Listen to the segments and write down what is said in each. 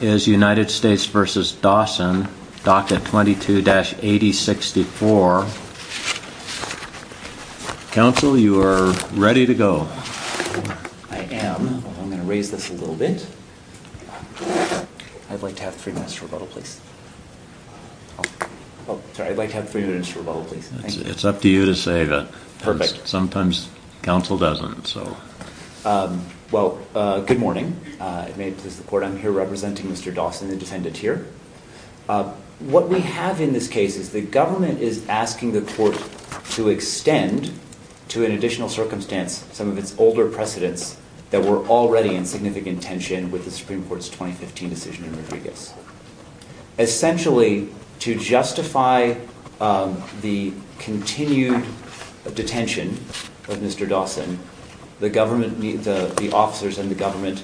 is United States v. Dawson, Docket 22-8064. Council, you are ready to go. I am. I'm going to raise this a little bit. I'd like to have three minutes for rebuttal, please. Sorry, I'd like to have three minutes for rebuttal, please. It's up to you to say that. Perfect. Sometimes council doesn't, so. Well, good morning. I'm here representing Mr. Dawson, the defendant here. What we have in this case is the government is asking the court to extend to an additional circumstance some of its older precedents that were already in significant tension with the Supreme Court's 2015 decision in Rodriguez. Essentially, to justify the continued detention of Mr. Dawson, the government, the officers in the government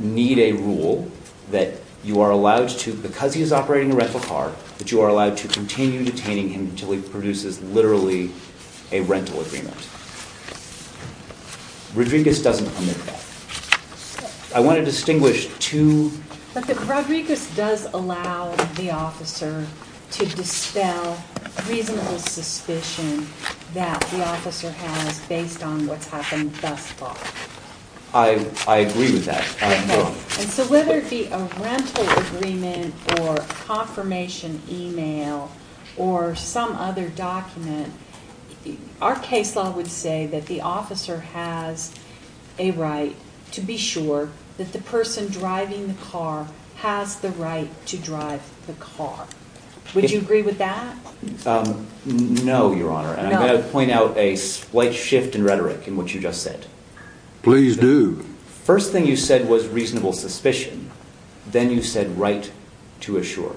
need a rule that you are allowed to, because he is operating a rental car, that you are allowed to continue detaining him until he produces literally a rental agreement. Rodriguez doesn't commit that. I want to distinguish two. But Rodriguez does allow the officer to dispel reasonable suspicion that the officer has based on what's happened thus far. I agree with that. And so whether it be a rental agreement or confirmation email or some other document, our case law would say that the officer has a right to be sure that the person driving the car has the right to drive the car. Would you agree with that? No, Your Honor. I'm going to point out a slight shift in rhetoric in what you just said. Please do. First thing you said was reasonable suspicion. Then you said right to assure.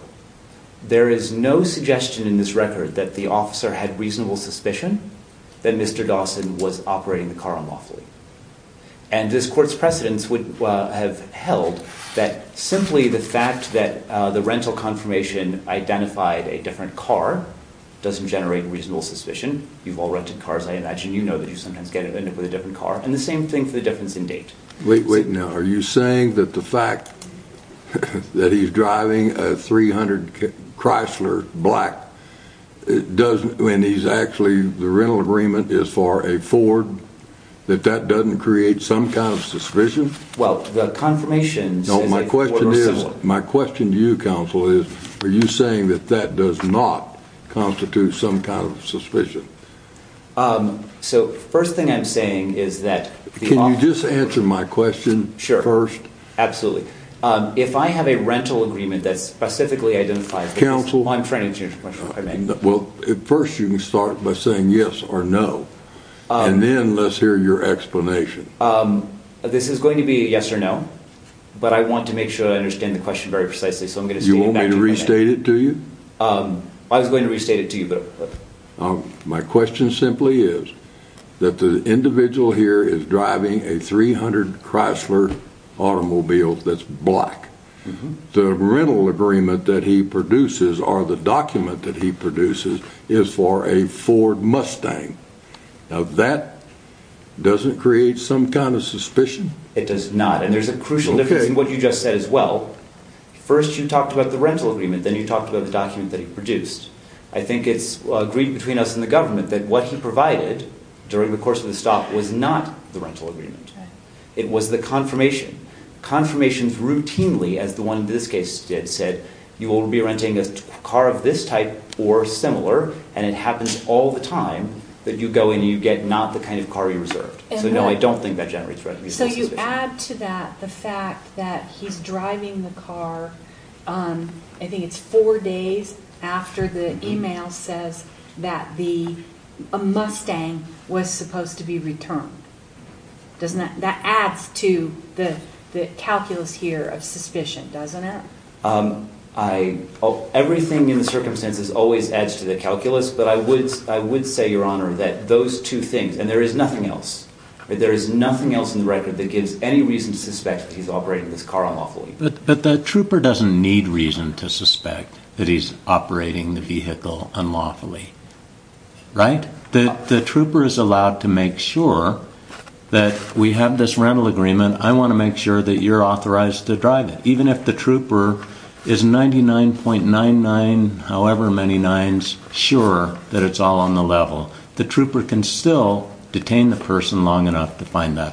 There is no suggestion in this record that the officer had reasonable suspicion that Mr. Dawson was operating the car unlawfully. And this court's precedents would have held that simply the fact that the rental confirmation identified a different car doesn't generate reasonable suspicion. You've all rented cars, I imagine. You know that you sometimes end up with a different car and the same thing for the difference in date. Wait, wait. Now, are you saying that the fact that he's driving a 300 Chrysler black doesn't mean he's actually the rental agreement is for a Ford, that that doesn't create some kind of suspicion? Well, the confirmation my question to you, counsel, is are you saying that that does not constitute some kind of suspicion? So, first thing I'm saying is that- Can you just answer my question first? Absolutely. If I have a rental agreement that specifically identifies- Counsel- I'm trying to change my mind. Well, first you can start by saying yes or no. And then let's hear your explanation. This is going to be a yes or no, but I want to make sure I understand the question very precisely. So I'm going to- You want me to restate it to you? I was going to restate it to you, but- My question simply is that the individual here is driving a 300 Chrysler automobile that's black. The rental agreement that he produces or the document that he produces is for a Ford Mustang. Now, that doesn't create some kind of suspicion? It does not. And there's a crucial difference in what you just said as well. First you talked about the rental agreement, then you talked about the document that he produced. I think it's agreed between us and the government that what he provided during the course of the stop was not the rental agreement. It was the confirmation. Confirmations routinely, as the one in this case did, said you will be renting a car of this type or similar and it happens all the time that you go in and you get not the kind of car you reserved. So no, I don't think that generates- So you add to that the fact that he's driving the car, I think it's four days after the email says that a Mustang was supposed to be returned. That adds to the calculus here of suspicion, doesn't it? Everything in the circumstances always adds to the calculus, but I would say, Your Honor, that those two things, and there is nothing else. There is nothing else in the record that gives any reason to suspect that he's operating this car unlawfully. But the trooper doesn't need reason to suspect that he's operating the vehicle unlawfully, right? The trooper is allowed to make sure that we have this rental agreement. I want to make sure that you're authorized to drive it. Even if the trooper is 99.99, however many nines, sure that it's all on the level, the trooper can still detain the person long enough to find that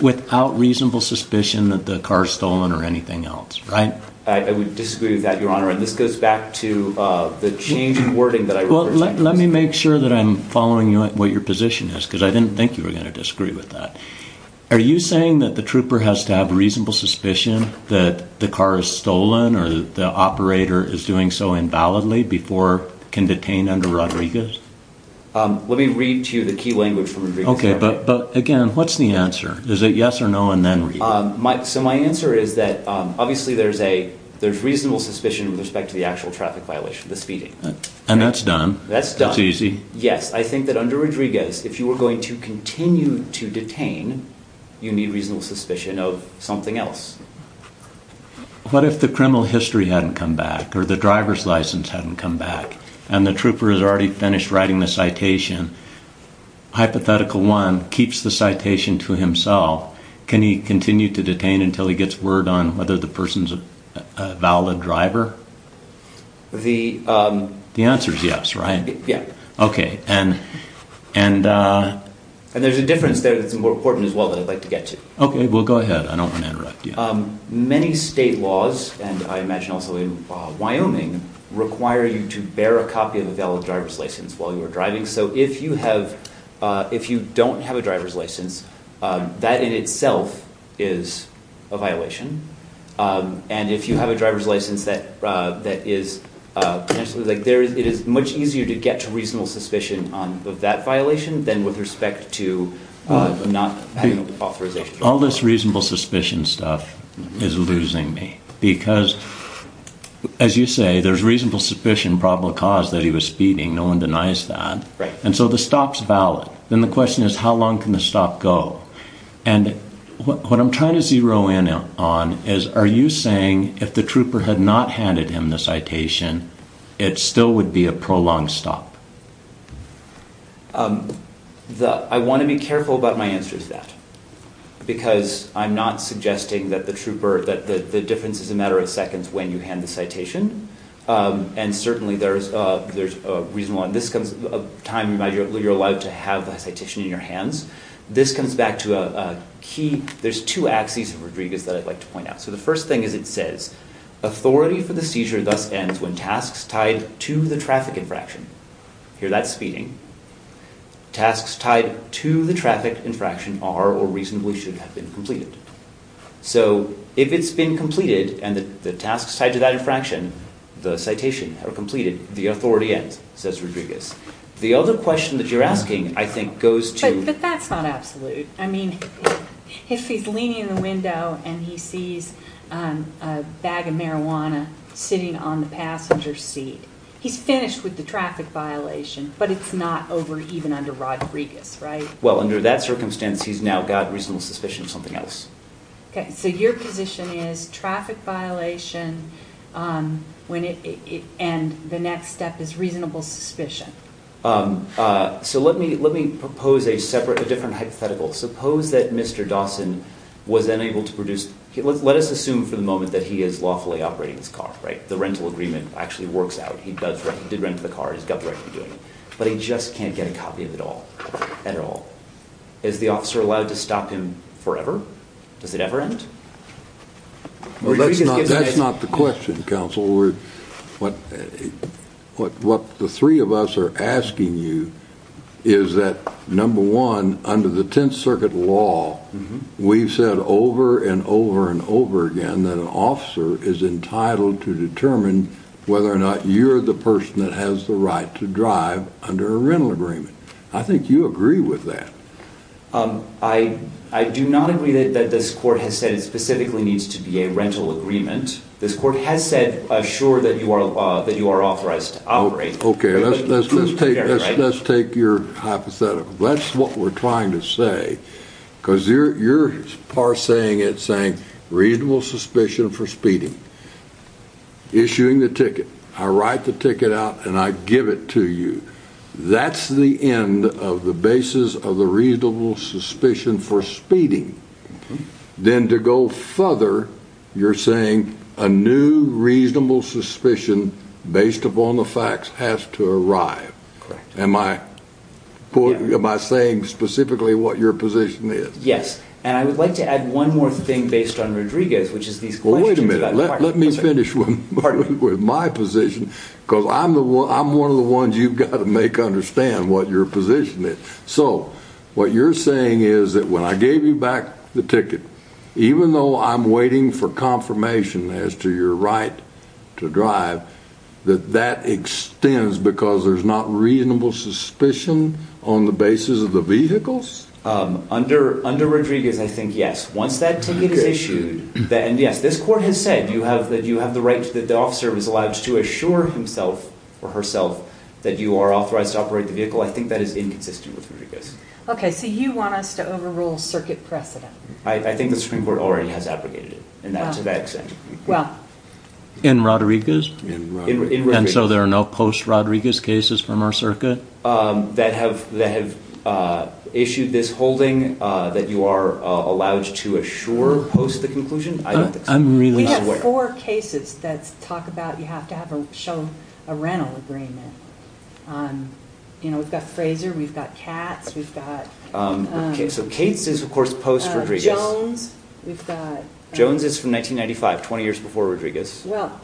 without reasonable suspicion that the car is stolen or anything else, right? I would disagree with that, Your Honor. And this goes back to the change in wording that I- Well, let me make sure that I'm following what your position is, because I didn't think you were going to disagree with that. Are you saying that the trooper has to have reasonable suspicion that the car is stolen or the operator is doing so invalidly before can detain under Rodriguez? Let me read to you the key language from Rodriguez. Okay, but again, what's the answer? Is it yes or no and then read? So my answer is that obviously there's reasonable suspicion with respect to the actual traffic violation, the speeding. And that's done? That's done. That's easy? Yes. I think that under Rodriguez, if you were going to continue to detain, you need reasonable suspicion of something else. What if the criminal history hadn't come back or the driver's license hadn't come back and the trooper has already finished writing the citation, hypothetical one keeps the citation to himself, can he continue to detain until he gets word on whether the person's a valid driver? The answer is yes, right? Yeah. Okay. And- And there's a difference there that's more important as well that I'd like to get to. Okay. Well, go ahead. I don't want to interrupt you. Many state laws, and I imagine also in Wyoming, require you to bear a copy of a valid driver's license while you are driving. So if you don't have a driver's license, that in itself is a violation. And if you have a driver's license that is, it is much easier to get to reasonable suspicion of that violation than with respect to not having authorization. All this reasonable suspicion stuff is losing me because, as you say, there's reasonable suspicion probable cause that he was speeding. No one denies that. Right. And so the stop's valid. Then the question is, how long can the stop go? And what I'm trying to zero in on is, are you saying if the trooper had not handed him the citation, it still would be a prolonged stop? I want to be careful about my answer to that, because I'm not suggesting that the trooper, that the difference is a matter of seconds when you hand the citation. And certainly there's a reasonable, and this comes a time where you're allowed to have the citation in your hands. This comes back to a key, there's two axes of Rodriguez that I'd like to point out. So the first thing is it says, authority for the seizure thus ends when tasks tied to the traffic infraction, here that's speeding, tasks tied to the traffic infraction are or reasonably should have been completed. So if it's been completed and the tasks tied to that infraction, the citation are completed, the authority ends, says Rodriguez. The other question that you're asking, I think, goes to- But that's not absolute. I mean, if he's leaning in the window and he sees a bag of marijuana sitting on the passenger seat, he's finished with the traffic violation, but it's not over even under Rodriguez, right? Well, under that circumstance, he's now got reasonable suspicion of something else. Okay, so your position is traffic violation and the next step is reasonable suspicion. So let me propose a separate, a different hypothetical. Suppose that Mr. Dawson was lawfully operating his car, right? The rental agreement actually works out. He did rent the car, he's got the right to be doing it, but he just can't get a copy of it all, at all. Is the officer allowed to stop him forever? Does it ever end? Well, that's not the question, counsel. What the three of us are asking you is that number one, under the Tenth Circuit law, we've said over and over and over again that an officer is entitled to determine whether or not you're the person that has the right to drive under a rental agreement. I think you agree with that. I do not agree that this court has said it specifically needs to be a rental agreement. This court has said, sure, that you are authorized to operate. Okay, let's take your hypothetical. That's what we're trying to say, because you're parsing it, saying reasonable suspicion for speeding, issuing the ticket. I write the ticket out and I give it to you. That's the end of the basis of the reasonable suspicion for speeding. Then to go further, you're saying a new reasonable suspicion based upon the facts has to arrive. Am I saying specifically what your position is? Yes, and I would like to add one more thing based on Rodriguez, which is these questions. Well, wait a minute. Let me finish with my position, because I'm one of the ones you've got to make understand what your position is. What you're saying is that when I gave you back the ticket, even though I'm waiting for confirmation as to your right to drive, that that extends because there's not reasonable suspicion on the basis of the vehicles? Under Rodriguez, I think yes. Once that ticket is issued, and yes, this court has said that you have the right that the officer is allowed to assure himself or herself that you are authorized to operate the vehicle. I think that is inconsistent with Rodriguez. Okay, so you want us to overrule circuit precedent? I think the Supreme Court already has abrogated it, and that's to that extent. Well, in Rodriguez? And so there are no post-Rodriguez cases from our circuit? That have issued this holding that you are allowed to assure post the conclusion? We have four cases that talk about you have to have a rental agreement. We've got Fraser, we've got Katz, we've got... So Katz is, of course, post-Rodriguez. Jones, we've got... Well,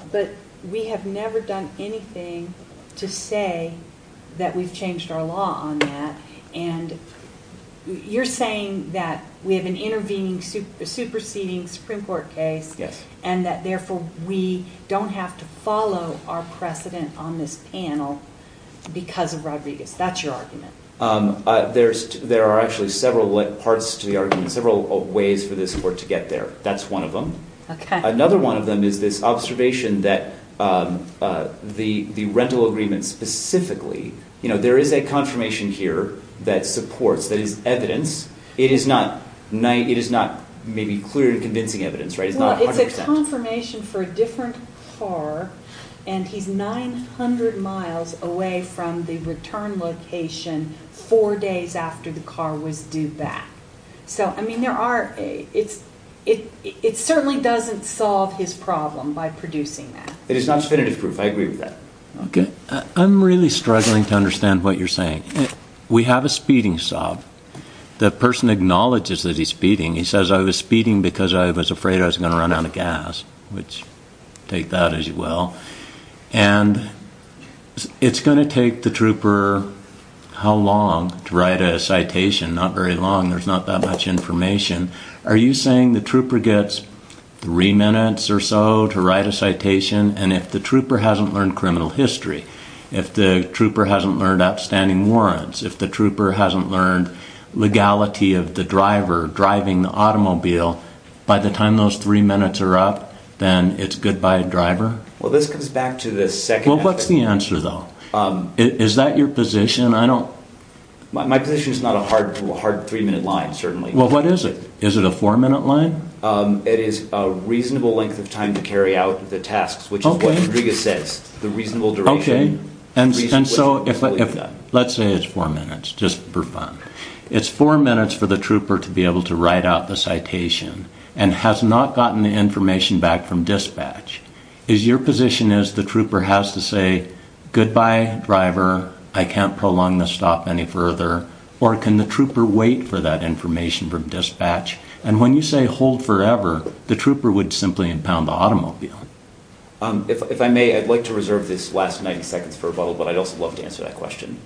but we have never done anything to say that we've changed our law on that, and you're saying that we have an intervening, superseding Supreme Court case, and that therefore we don't have to follow our precedent on this panel because of Rodriguez. That's your argument? There are actually several parts to the argument, several ways for this court to get there. That's one of them. Another one of them is this observation that the rental agreement specifically, there is a confirmation here that supports, that is evidence. It is not maybe clear and convincing evidence, right? It's not 100%. It's a confirmation for a different car, and he's 900 miles away from the return location four days after the car was due back. So, I mean, there are... It certainly doesn't solve his problem by producing that. It is not definitive proof. I agree with that. Okay. I'm really struggling to understand what you're saying. We have a speeding stop. The person acknowledges that he's speeding. He says, I was speeding because I was afraid I was going to run out of gas, which take that as well. And it's going to take the trooper how long to write a citation? Not very long. There's not that much information. Are you saying the trooper gets three minutes or so to write a citation? And if the trooper hasn't learned criminal history, if the trooper hasn't learned outstanding warrants, if the trooper hasn't learned legality of the driver driving the automobile, by the time those three minutes are up, then it's goodbye driver? Well, this comes back to the second... What's the answer though? Is that your position? I don't... My position is not a hard three minute line, certainly. Well, what is it? Is it a four minute line? It is a reasonable length of time to carry out the tasks, which is what Rodriguez says. The reasonable duration. Okay. And so, let's say it's four minutes, just for fun. It's four minutes for the trooper to be able to write out the citation and has not gotten the information back from dispatch. Is your position is the trooper has to say, goodbye driver, I can't prolong the stop any further, or can the trooper wait for that information from dispatch? And when you say hold forever, the trooper would simply impound the automobile. If I may, I'd like to reserve this last 90 seconds for a bubble, but I'd also love to answer that question.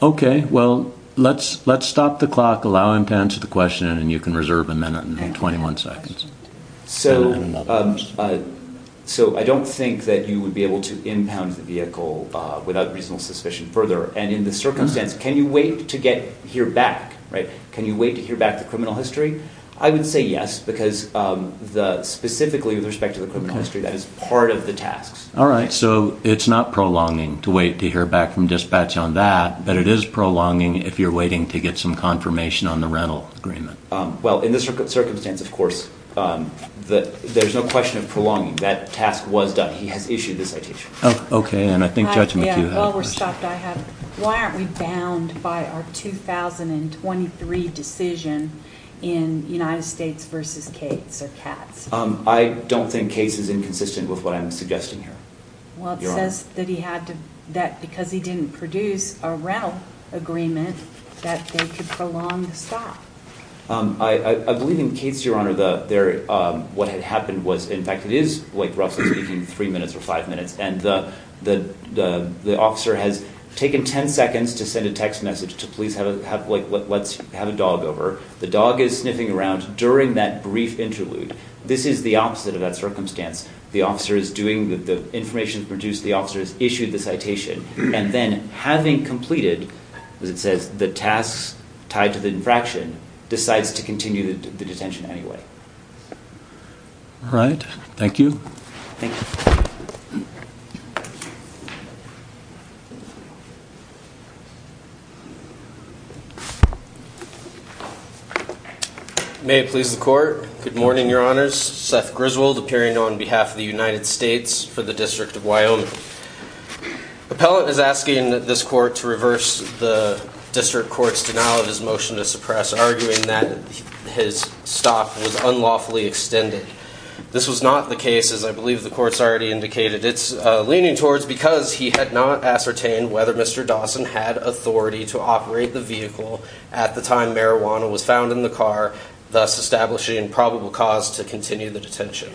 Okay. Well, let's stop the clock, allow him to answer the question, and you can reserve a minute and 21 seconds. So, I don't think that you would be able to impound the vehicle without reasonable suspicion further. And in the circumstance, can you wait to hear back, right? Can you wait to hear back the criminal history? I would say yes, because specifically with respect to the criminal history, that is part of the tasks. All right. So, it's not prolonging to wait to hear back from dispatch on that, but it is prolonging if you're waiting to get some confirmation on the rental agreement. Well, in this circumstance, of course, there's no question of prolonging. That task was done. He has issued the citation. Oh, okay. And I think Judge McHugh had a question. Yeah, while we're stopped, I have. Why aren't we bound by our 2023 decision in United States versus Cates or Katz? I don't think Cates is inconsistent with what I'm suggesting here. Well, it says that because he didn't produce a rental agreement, that they could prolong the stop. I believe in Cates, Your Honor, what had happened was, in fact, it is roughly speaking three minutes or five minutes. And the officer has taken 10 seconds to send a text message to police, let's have a dog over. The dog is sniffing around during that brief interlude. This is the opposite of that circumstance. The officer is doing the information produced. The officer has issued the citation. And then having completed, as it says, the tasks tied to the infraction, decides to continue the detention anyway. All right. Thank you. May it please the court. Good morning, Your Honors. Seth Griswold appearing on behalf of the United States for the District of Wyoming. Appellant is asking this court to reverse the district court's denial of his motion to suppress, arguing that his stop was unlawfully extended. This was not the case, as I believe the court's already indicated. It's leaning towards because he had not ascertained whether Mr. Dawson had authority to operate the vehicle at the time marijuana was found in the car, thus establishing probable cause to continue the detention.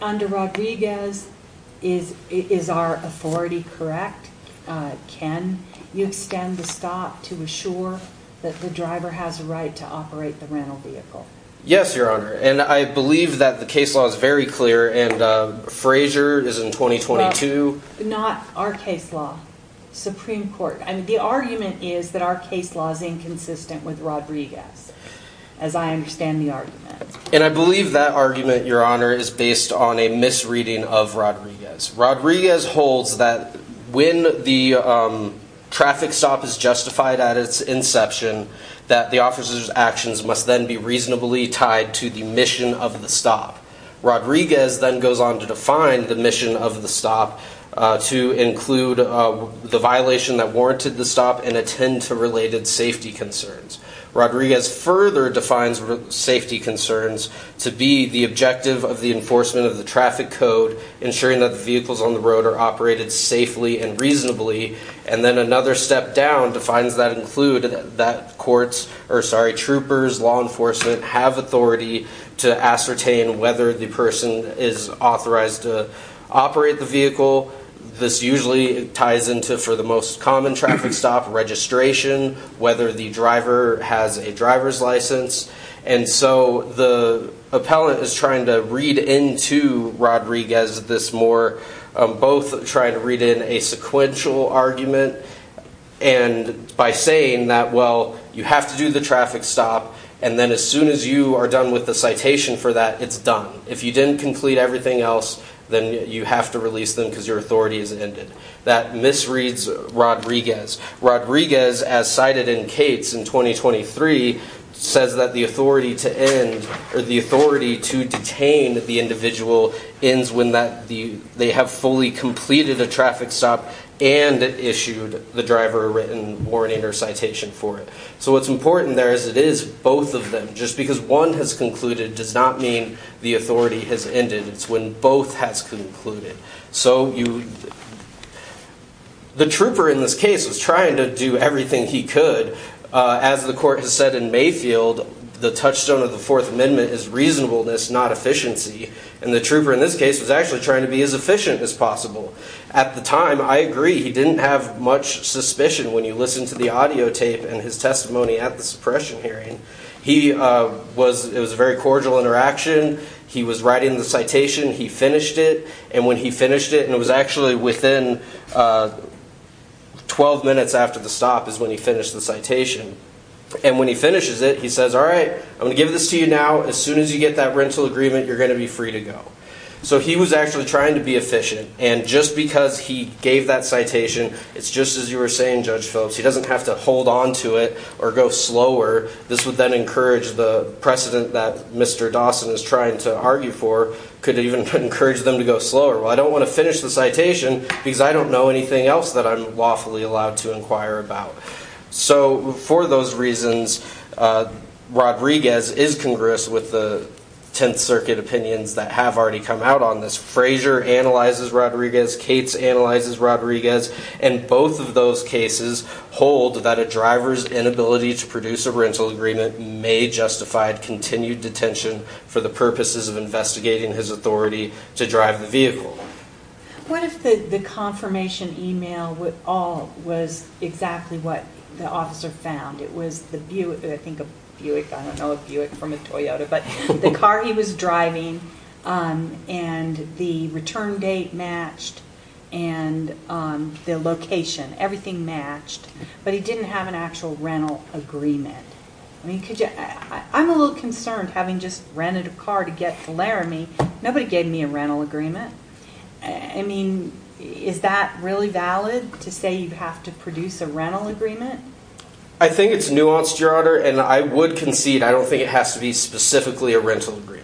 Under Rodriguez, is our authority correct? Can you extend the stop to assure that the driver has a right to operate the rental vehicle? Yes, Your Honor. And I believe that the case law is very clear. And Frazier is in 2022. Not our case law, Supreme Court. I mean, the argument is that our case law is inconsistent with Rodriguez, as I understand the argument. And I believe that argument, Your Honor, is based on a misreading of Rodriguez. Rodriguez holds that when the traffic stop is justified at its inception, that the officer's actions must then be reasonably tied to the mission of the stop. Rodriguez then goes on to define the mission of the stop to include the violation that warranted the stop and attend to related safety concerns. Rodriguez further defines safety concerns to be the objective of the enforcement of the traffic code, ensuring that the vehicles on the road are operated safely and reasonably. And then another step down defines that include that courts, or sorry, troopers, law enforcement have authority to ascertain whether the person is authorized to operate the vehicle. This usually ties into for the most common traffic stop registration, whether the driver has a driver's license. And so the appellant is trying to read into Rodriguez this more, both trying to read in a sequential argument and by saying that, well, you have to do the traffic stop. And then as soon as you are done with the citation for that, it's done. If you didn't complete everything else, then you have to release them because your authority is ended. That misreads Rodriguez. Rodriguez, as cited in Cates in 2023, says that the authority to end or the authority to detain the individual ends when they have fully completed a traffic stop and issued the driver a written warning or citation for it. So what's important there is it is both of them. Just because one has concluded does not mean the authority has ended. It's when both has concluded. So the trooper in this case was trying to do everything he could. As the court has said in Mayfield, the touchstone of the Fourth Amendment is reasonableness, not efficiency. And the trooper in this case was actually trying to be as efficient as possible. At the time, I agree he didn't have much suspicion when you listen to the audio tape and his testimony at the suppression hearing. He was it was a very cordial interaction. He was writing the citation. He finished it. And when he finished it, and it was actually within 12 minutes after the stop is when he finished the citation. And when he finishes it, he says, All right, I'm going to give this to you now. As soon as you get that rental agreement, you're going to be free to go. So he was actually trying to be efficient. And just because he gave that citation, it's just as you were saying, Judge Phillips, he doesn't have to hold on to it or go slower. This would then encourage the precedent that Mr. Dawson is trying to argue for, could even encourage them to go slower. Well, I don't want to finish the citation because I don't know anything else that I'm lawfully allowed to inquire about. So for those reasons, Rodriguez is congruous with the 10th Circuit opinions that have already come out on this. Frazier analyzes Rodriguez. Cates analyzes Rodriguez. And both of those cases hold that a driver's inability to produce a rental agreement may justify continued detention for the purposes of investigating his authority to drive the vehicle. What if the confirmation email was exactly what the officer found? It was the Buick. I think a Buick. I don't know a Buick from a Toyota. But the car he was driving and the return date matched and the location. Everything matched. But he didn't have an actual rental agreement. I mean, I'm a little concerned having just rented a car to get to Laramie. Nobody gave me a rental agreement. I mean, is that really valid to say you have to produce a rental agreement? I think it's nuanced, Your Honor. And I would concede. I don't think it has to be specifically a rental agreement.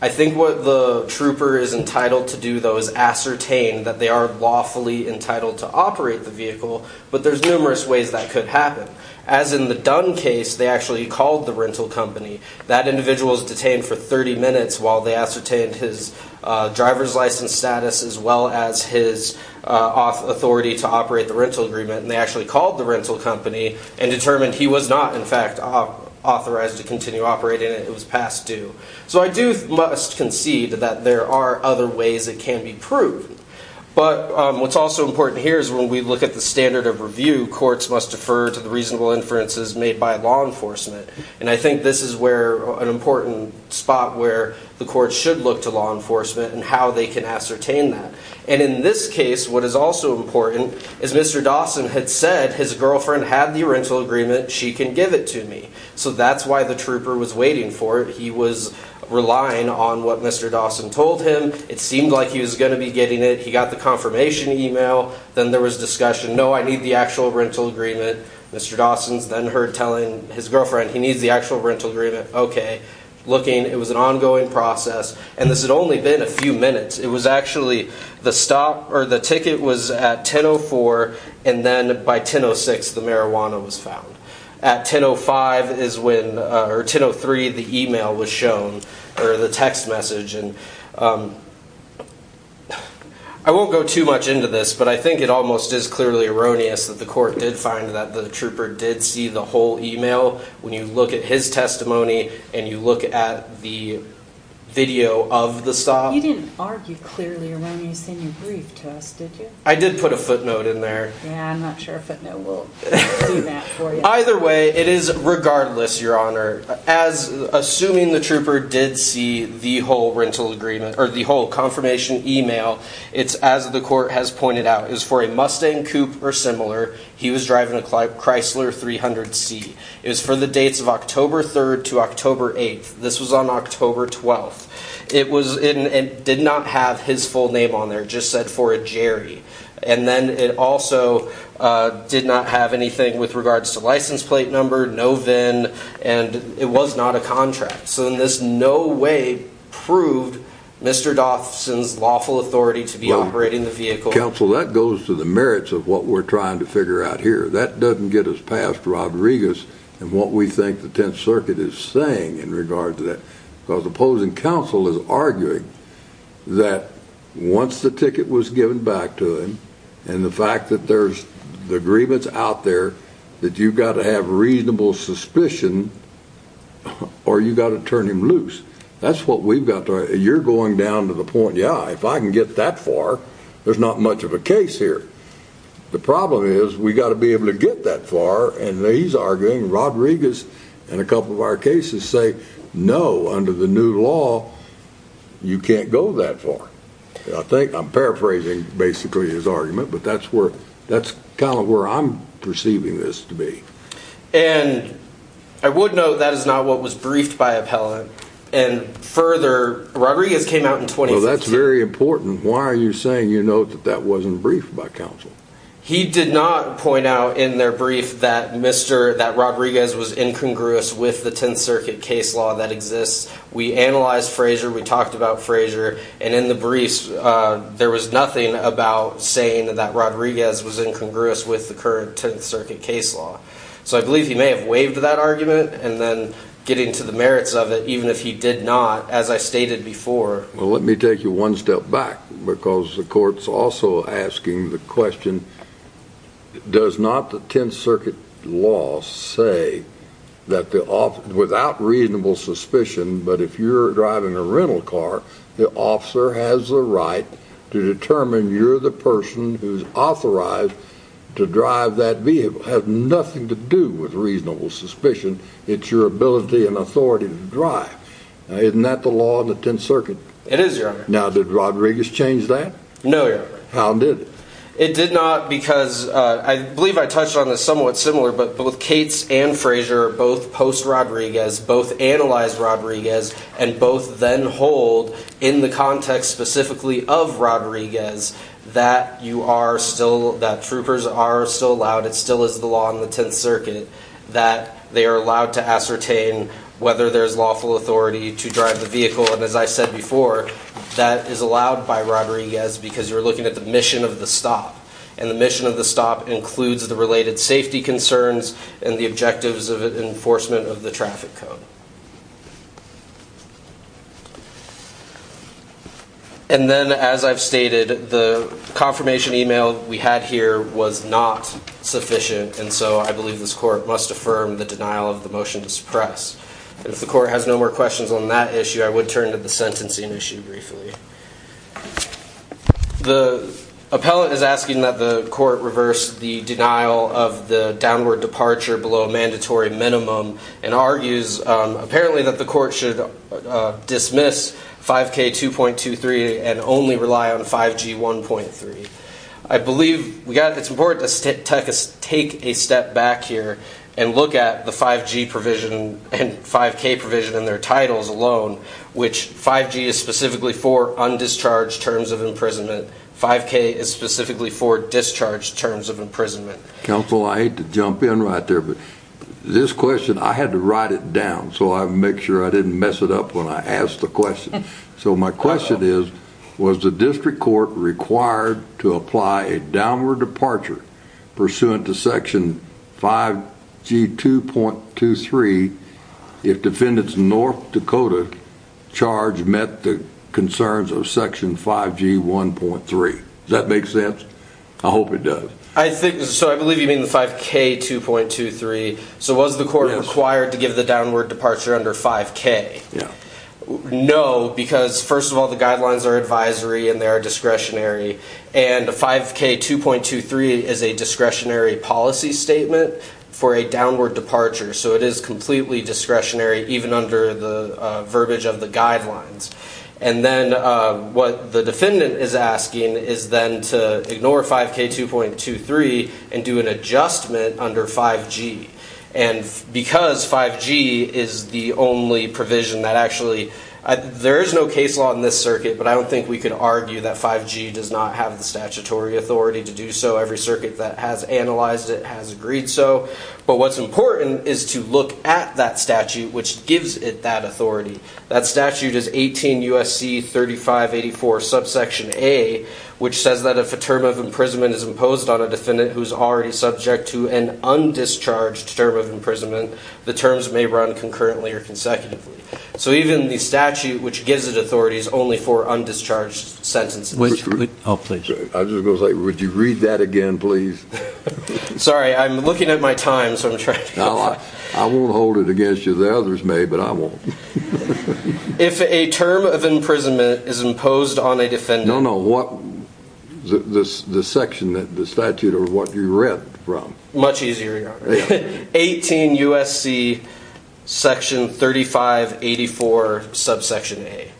I think what the trooper is entitled to do, though, is ascertain that they are lawfully entitled to operate the vehicle. But there's numerous ways that could happen. As in the Dunn case, they actually called the rental company. That individual was detained for 30 minutes while they ascertained his driver's license status as well as his authority to operate the rental agreement. And they actually called the rental company and determined he was not, in fact, authorized to continue operating it. It was past due. So I do must concede that there are other ways it can be proved. But what's also important here is when we look at the standard of review, courts must defer to the reasonable inferences made by law enforcement. And I think this is where an important spot where the courts should look to law enforcement and how they can ascertain that. And in this case, what is also important is Mr. Dawson had said his girlfriend had the rental agreement. She can give it to me. So that's why the trooper was waiting for it. He was relying on what Mr. Dawson told him. It seemed like he was going to be getting it. He got the confirmation email. Then there was discussion. No, I need the actual rental agreement. Mr. Dawson's then heard telling his girlfriend he needs the actual rental agreement. OK. Looking, it was an ongoing process. And this had only been a few minutes. It was actually the stop or the ticket was at 10-04. And then by 10-06, the marijuana was found. At 10-05 is when or 10-03, the email was shown or the text message. And I won't go too much into this. But I think it almost is clearly erroneous that the court did find that the trooper did see the whole email when you look at his testimony and you look at the video of the stop. You didn't argue clearly or when you sent your brief to us, did you? I did put a footnote in there. Yeah, I'm not sure if a footnote will do that for you. Either way, it is regardless, Your Honor. As assuming the trooper did see the whole rental agreement or the whole confirmation email, as the court has pointed out, it was for a Mustang Coupe or similar. He was driving a Chrysler 300C. It was for the dates of October 3rd to October 8th. This was on October 12th. It did not have his full name on there, just said for a Jerry. And then it also did not have anything with regards to license plate number, no VIN, and it was not a contract. So in this no way proved Mr. Dawson's lawful authority to be operating the vehicle. Counsel, that goes to the merits of what we're trying to figure out here. That doesn't get us past Rodriguez and what we think the Tenth Circuit is saying in regard to that. Because opposing counsel is arguing that once the ticket was given back to him and the fact that there's the agreements out there that you've got to have reasonable suspicion or you've got to turn him loose. That's what we've got to, you're going down to the point, yeah, if I can get that far, there's not much of a case here. The problem is we've got to be able to get that far. And he's arguing Rodriguez and a couple of our cases say, no, under the new law, you can't go that far. I think I'm paraphrasing basically his argument, but that's where, that's kind of where I'm perceiving this to be. And I would note that is not what was briefed by appellant. And further, Rodriguez came out in 2015. Well, that's very important. Why are you saying you know that that wasn't briefed by counsel? He did not point out in their brief that Mr., that Rodriguez was incongruous with the Tenth Circuit case law that exists. We analyzed Frazier. We talked about Frazier. And in the briefs, there was nothing about saying that Rodriguez was incongruous with the current Tenth Circuit case law. So I believe he may have waived that argument and then getting to the merits of it, even if he did not, as I stated before. Well, let me take you one step back because the court's also asking the question, does not the Tenth Circuit law say that the off without reasonable suspicion, but if you're driving a rental car, the officer has a right to determine you're the person who's authorized to drive that vehicle, has nothing to do with reasonable suspicion. It's your ability and authority to drive. Isn't that the law in the Tenth Circuit? It is, your honor. Now, did Rodriguez change that? No, your honor. How did it? It did not because I believe I touched on this somewhat similar, but both Cates and Frazier both post Rodriguez, both analyze Rodriguez and both then hold in the context specifically of Rodriguez that you are still that troopers are still allowed. It still is the law in the Tenth Circuit that they are allowed to ascertain whether there's lawful authority to drive the vehicle. And as I said before, that is allowed by Rodriguez because you're looking at the mission of the stop. And the mission of the stop includes the related safety concerns and the objectives of enforcement of the traffic code. And then as I've stated, the confirmation email we had here was not sufficient. And so I believe this court must affirm the denial of the motion to suppress. And if the court has no more questions on that issue, I would turn to the sentencing issue briefly. The appellate is asking that the court reverse the denial of the downward departure below a mandatory minimum apparently that the court should dismiss 5k 2.23 and only rely on 5g 1.3. I believe we got it's important to take a step back here and look at the 5g provision and 5k provision in their titles alone, which 5g is specifically for undischarged terms of imprisonment. 5k is specifically for discharged terms of imprisonment. Counsel, I hate to jump in right there. But this question, I had to write it down. So I make sure I didn't mess it up when I asked the question. So my question is, was the district court required to apply a downward departure pursuant to section 5g 2.23 if defendants in North Dakota charge met the concerns of section 5g 1.3. Does that make sense? I hope it does. I think so. I believe you mean the 5k 2.23. So was the court required to give the downward departure under 5k? No, because first of all, the guidelines are advisory and they are discretionary. And 5k 2.23 is a discretionary policy statement for a downward departure. So it is completely discretionary, even under the verbiage of the guidelines. And then what the defendant is asking is then to ignore 5k 2.23 and do an adjustment under 5g. And because 5g is the only provision that actually, there is no case law in this circuit, but I don't think we could argue that 5g does not have the statutory authority to do so. Every circuit that has analyzed it has agreed so. But what's important is to look at that statute, which gives it that authority. That statute is 18 USC 3584 subsection a, which says that if a term of imprisonment is imposed on a defendant who's already subject to an undischarged term of imprisonment, the terms may run concurrently or consecutively. So even the statute, which gives it authorities only for undischarged sentences. I just was like, would you read that again, please? Sorry, I'm looking at my time. So I'm trying to, I won't hold it against you. The others may, but I won't. If a term of imprisonment is imposed on a defendant. I don't know what the section, the statute or what you read from. Much easier. 18 USC section 3584 subsection a.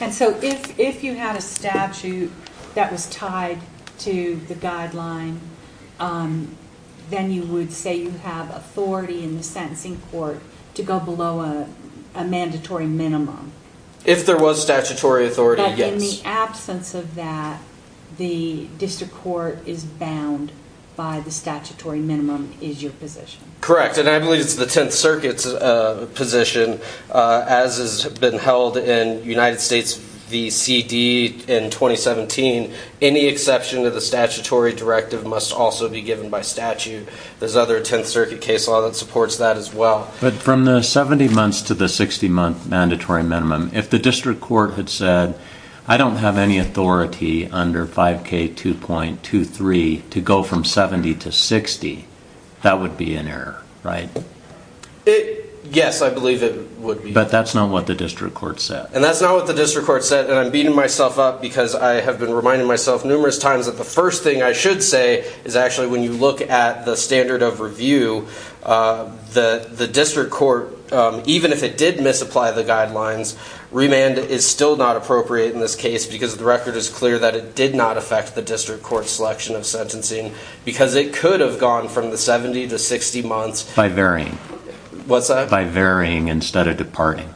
And so if you had a statute that was tied to the guideline, then you would say you have authority in the sentencing court to go below a mandatory minimum. If there was statutory authority, yes. In absence of that, the district court is bound by the statutory minimum is your position. Correct. And I believe it's the 10th circuit's position as has been held in United States, the CD in 2017. Any exception to the statutory directive must also be given by statute. There's other 10th circuit case law that supports that as well. But from the 70 months to the 60 month mandatory minimum, if the district court had said, I don't have any authority under 5k 2.23 to go from 70 to 60, that would be an error, right? Yes, I believe it would be. But that's not what the district court said. And that's not what the district court said. And I'm beating myself up because I have been reminding myself numerous times that the first thing I should say is actually when you look at the standard of review, the district court, even if it did misapply the guidelines, remand is still not appropriate in this case because the record is clear that it did not affect the district court selection of sentencing because it could have gone from the 70 to 60 months. By varying. What's that? By varying instead of departing.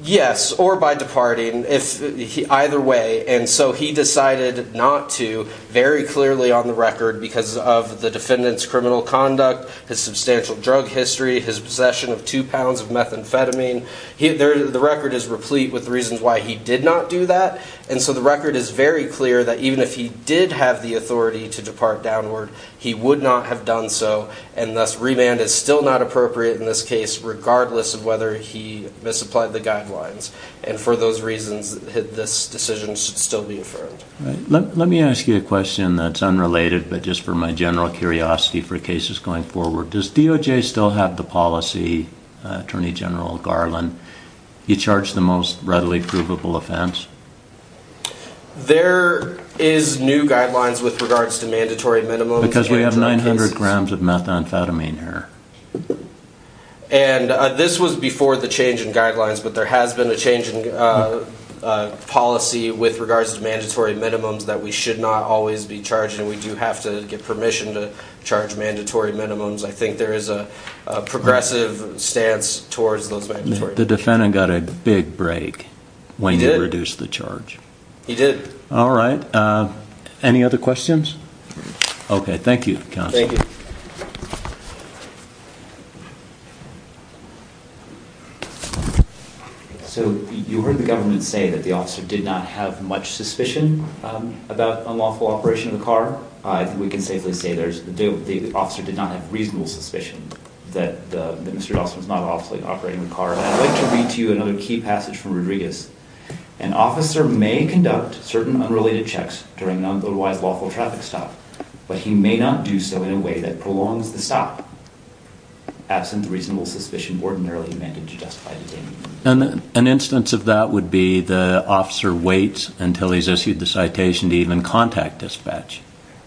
Yes, or by departing either way. And so he decided not to very clearly on the record because of the defendant's criminal conduct, his substantial drug history, his possession of two pounds of methamphetamine. The record is replete with reasons why he did not do that. And so the record is very clear that even if he did have the authority to depart downward, he would not have done so. And thus, remand is still not appropriate in this case, regardless of whether he misapplied the guidelines. And for those reasons, this decision should still be affirmed. Let me ask you a question that's unrelated. But just for my general curiosity for cases going forward, does DOJ still have the policy, Attorney General Garland, you charge the most readily provable offense? There is new guidelines with regards to mandatory minimum. Because we have 900 grams of methamphetamine here. And this was before the change in guidelines. But there has been a change in policy with regards to mandatory minimums that we should not always be charging. We do have to get permission to charge mandatory minimums. I think there is a progressive stance towards those mandatory minimums. The defendant got a big break when you reduced the charge. He did. All right. Any other questions? Okay. Thank you, counsel. So you heard the government say that the officer did not have much suspicion about unlawful operation of the car. I think we can safely say there's the officer did not have reasonable suspicion that Mr. Dawson was not officially operating the car. And I'd like to read to you another key passage from Rodriguez. An officer may conduct certain unrelated checks during an otherwise lawful traffic stop, but he may not do so in a way that prolongs the stop absent reasonable suspicion ordinarily amended to justify the date. An instance of that would be the officer waits until he's issued the citation to even contact dispatch.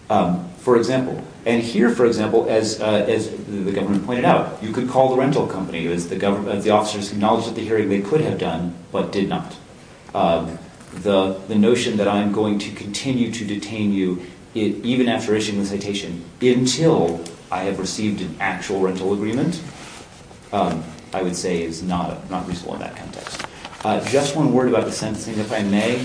For example, and here, for example, as the government pointed out, you could call the rental company as the government, the officers acknowledged at the hearing they could have done, but did not. The notion that I'm going to continue to detain you even after issuing the citation until I have received an actual rental agreement, I would say is not reasonable in that context. Just one word about the sentencing, if I may.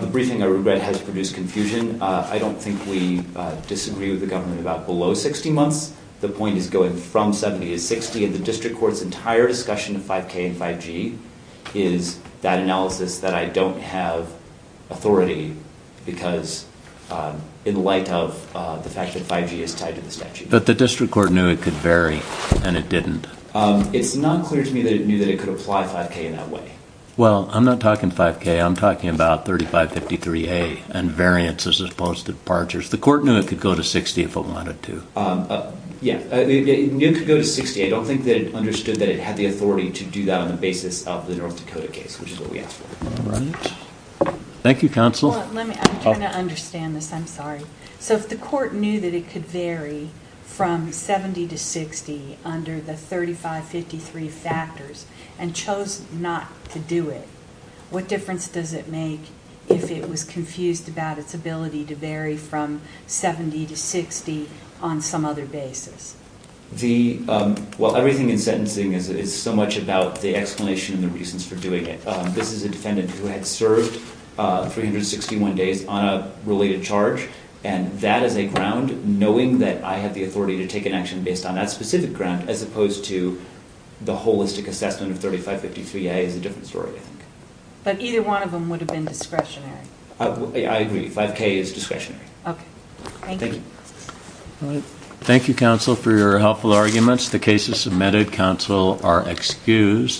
The briefing, I regret, has produced confusion. I don't think we disagree with the government about below 60 months. The point is going from 70 to 60. And the district court's entire discussion of 5K and 5G is that analysis that I don't have authority because in light of the fact that 5G is tied to the statute. But the district court knew it could vary and it didn't. It's not clear to me that it knew that it could apply 5K in that way. Well, I'm not talking 5K. I'm talking about 3553A and variances as opposed to departures. The court knew it could go to 60 if it wanted to. Yeah, it knew it could go to 60. I don't think that it understood that it had the authority to do that on the basis of the North Dakota case, which is what we asked for. Thank you, counsel. Well, let me, I'm trying to understand this. I'm sorry. So if the court knew that it could vary from 70 to 60 under the 3553 factors and chose not to do it, what difference does it make if it was confused about its ability to vary from 70 to 60 on some other basis? Well, everything in sentencing is so much about the explanation and the reasons for doing it. This is a defendant who had served 361 days on a related charge. That is a ground knowing that I have the authority to take an action based on that specific ground as opposed to the holistic assessment of 3553A is a different story, I think. But either one of them would have been discretionary. I agree. 5K is discretionary. Okay. Thank you. Thank you, counsel, for your helpful arguments. The case is submitted. Counsel are excused.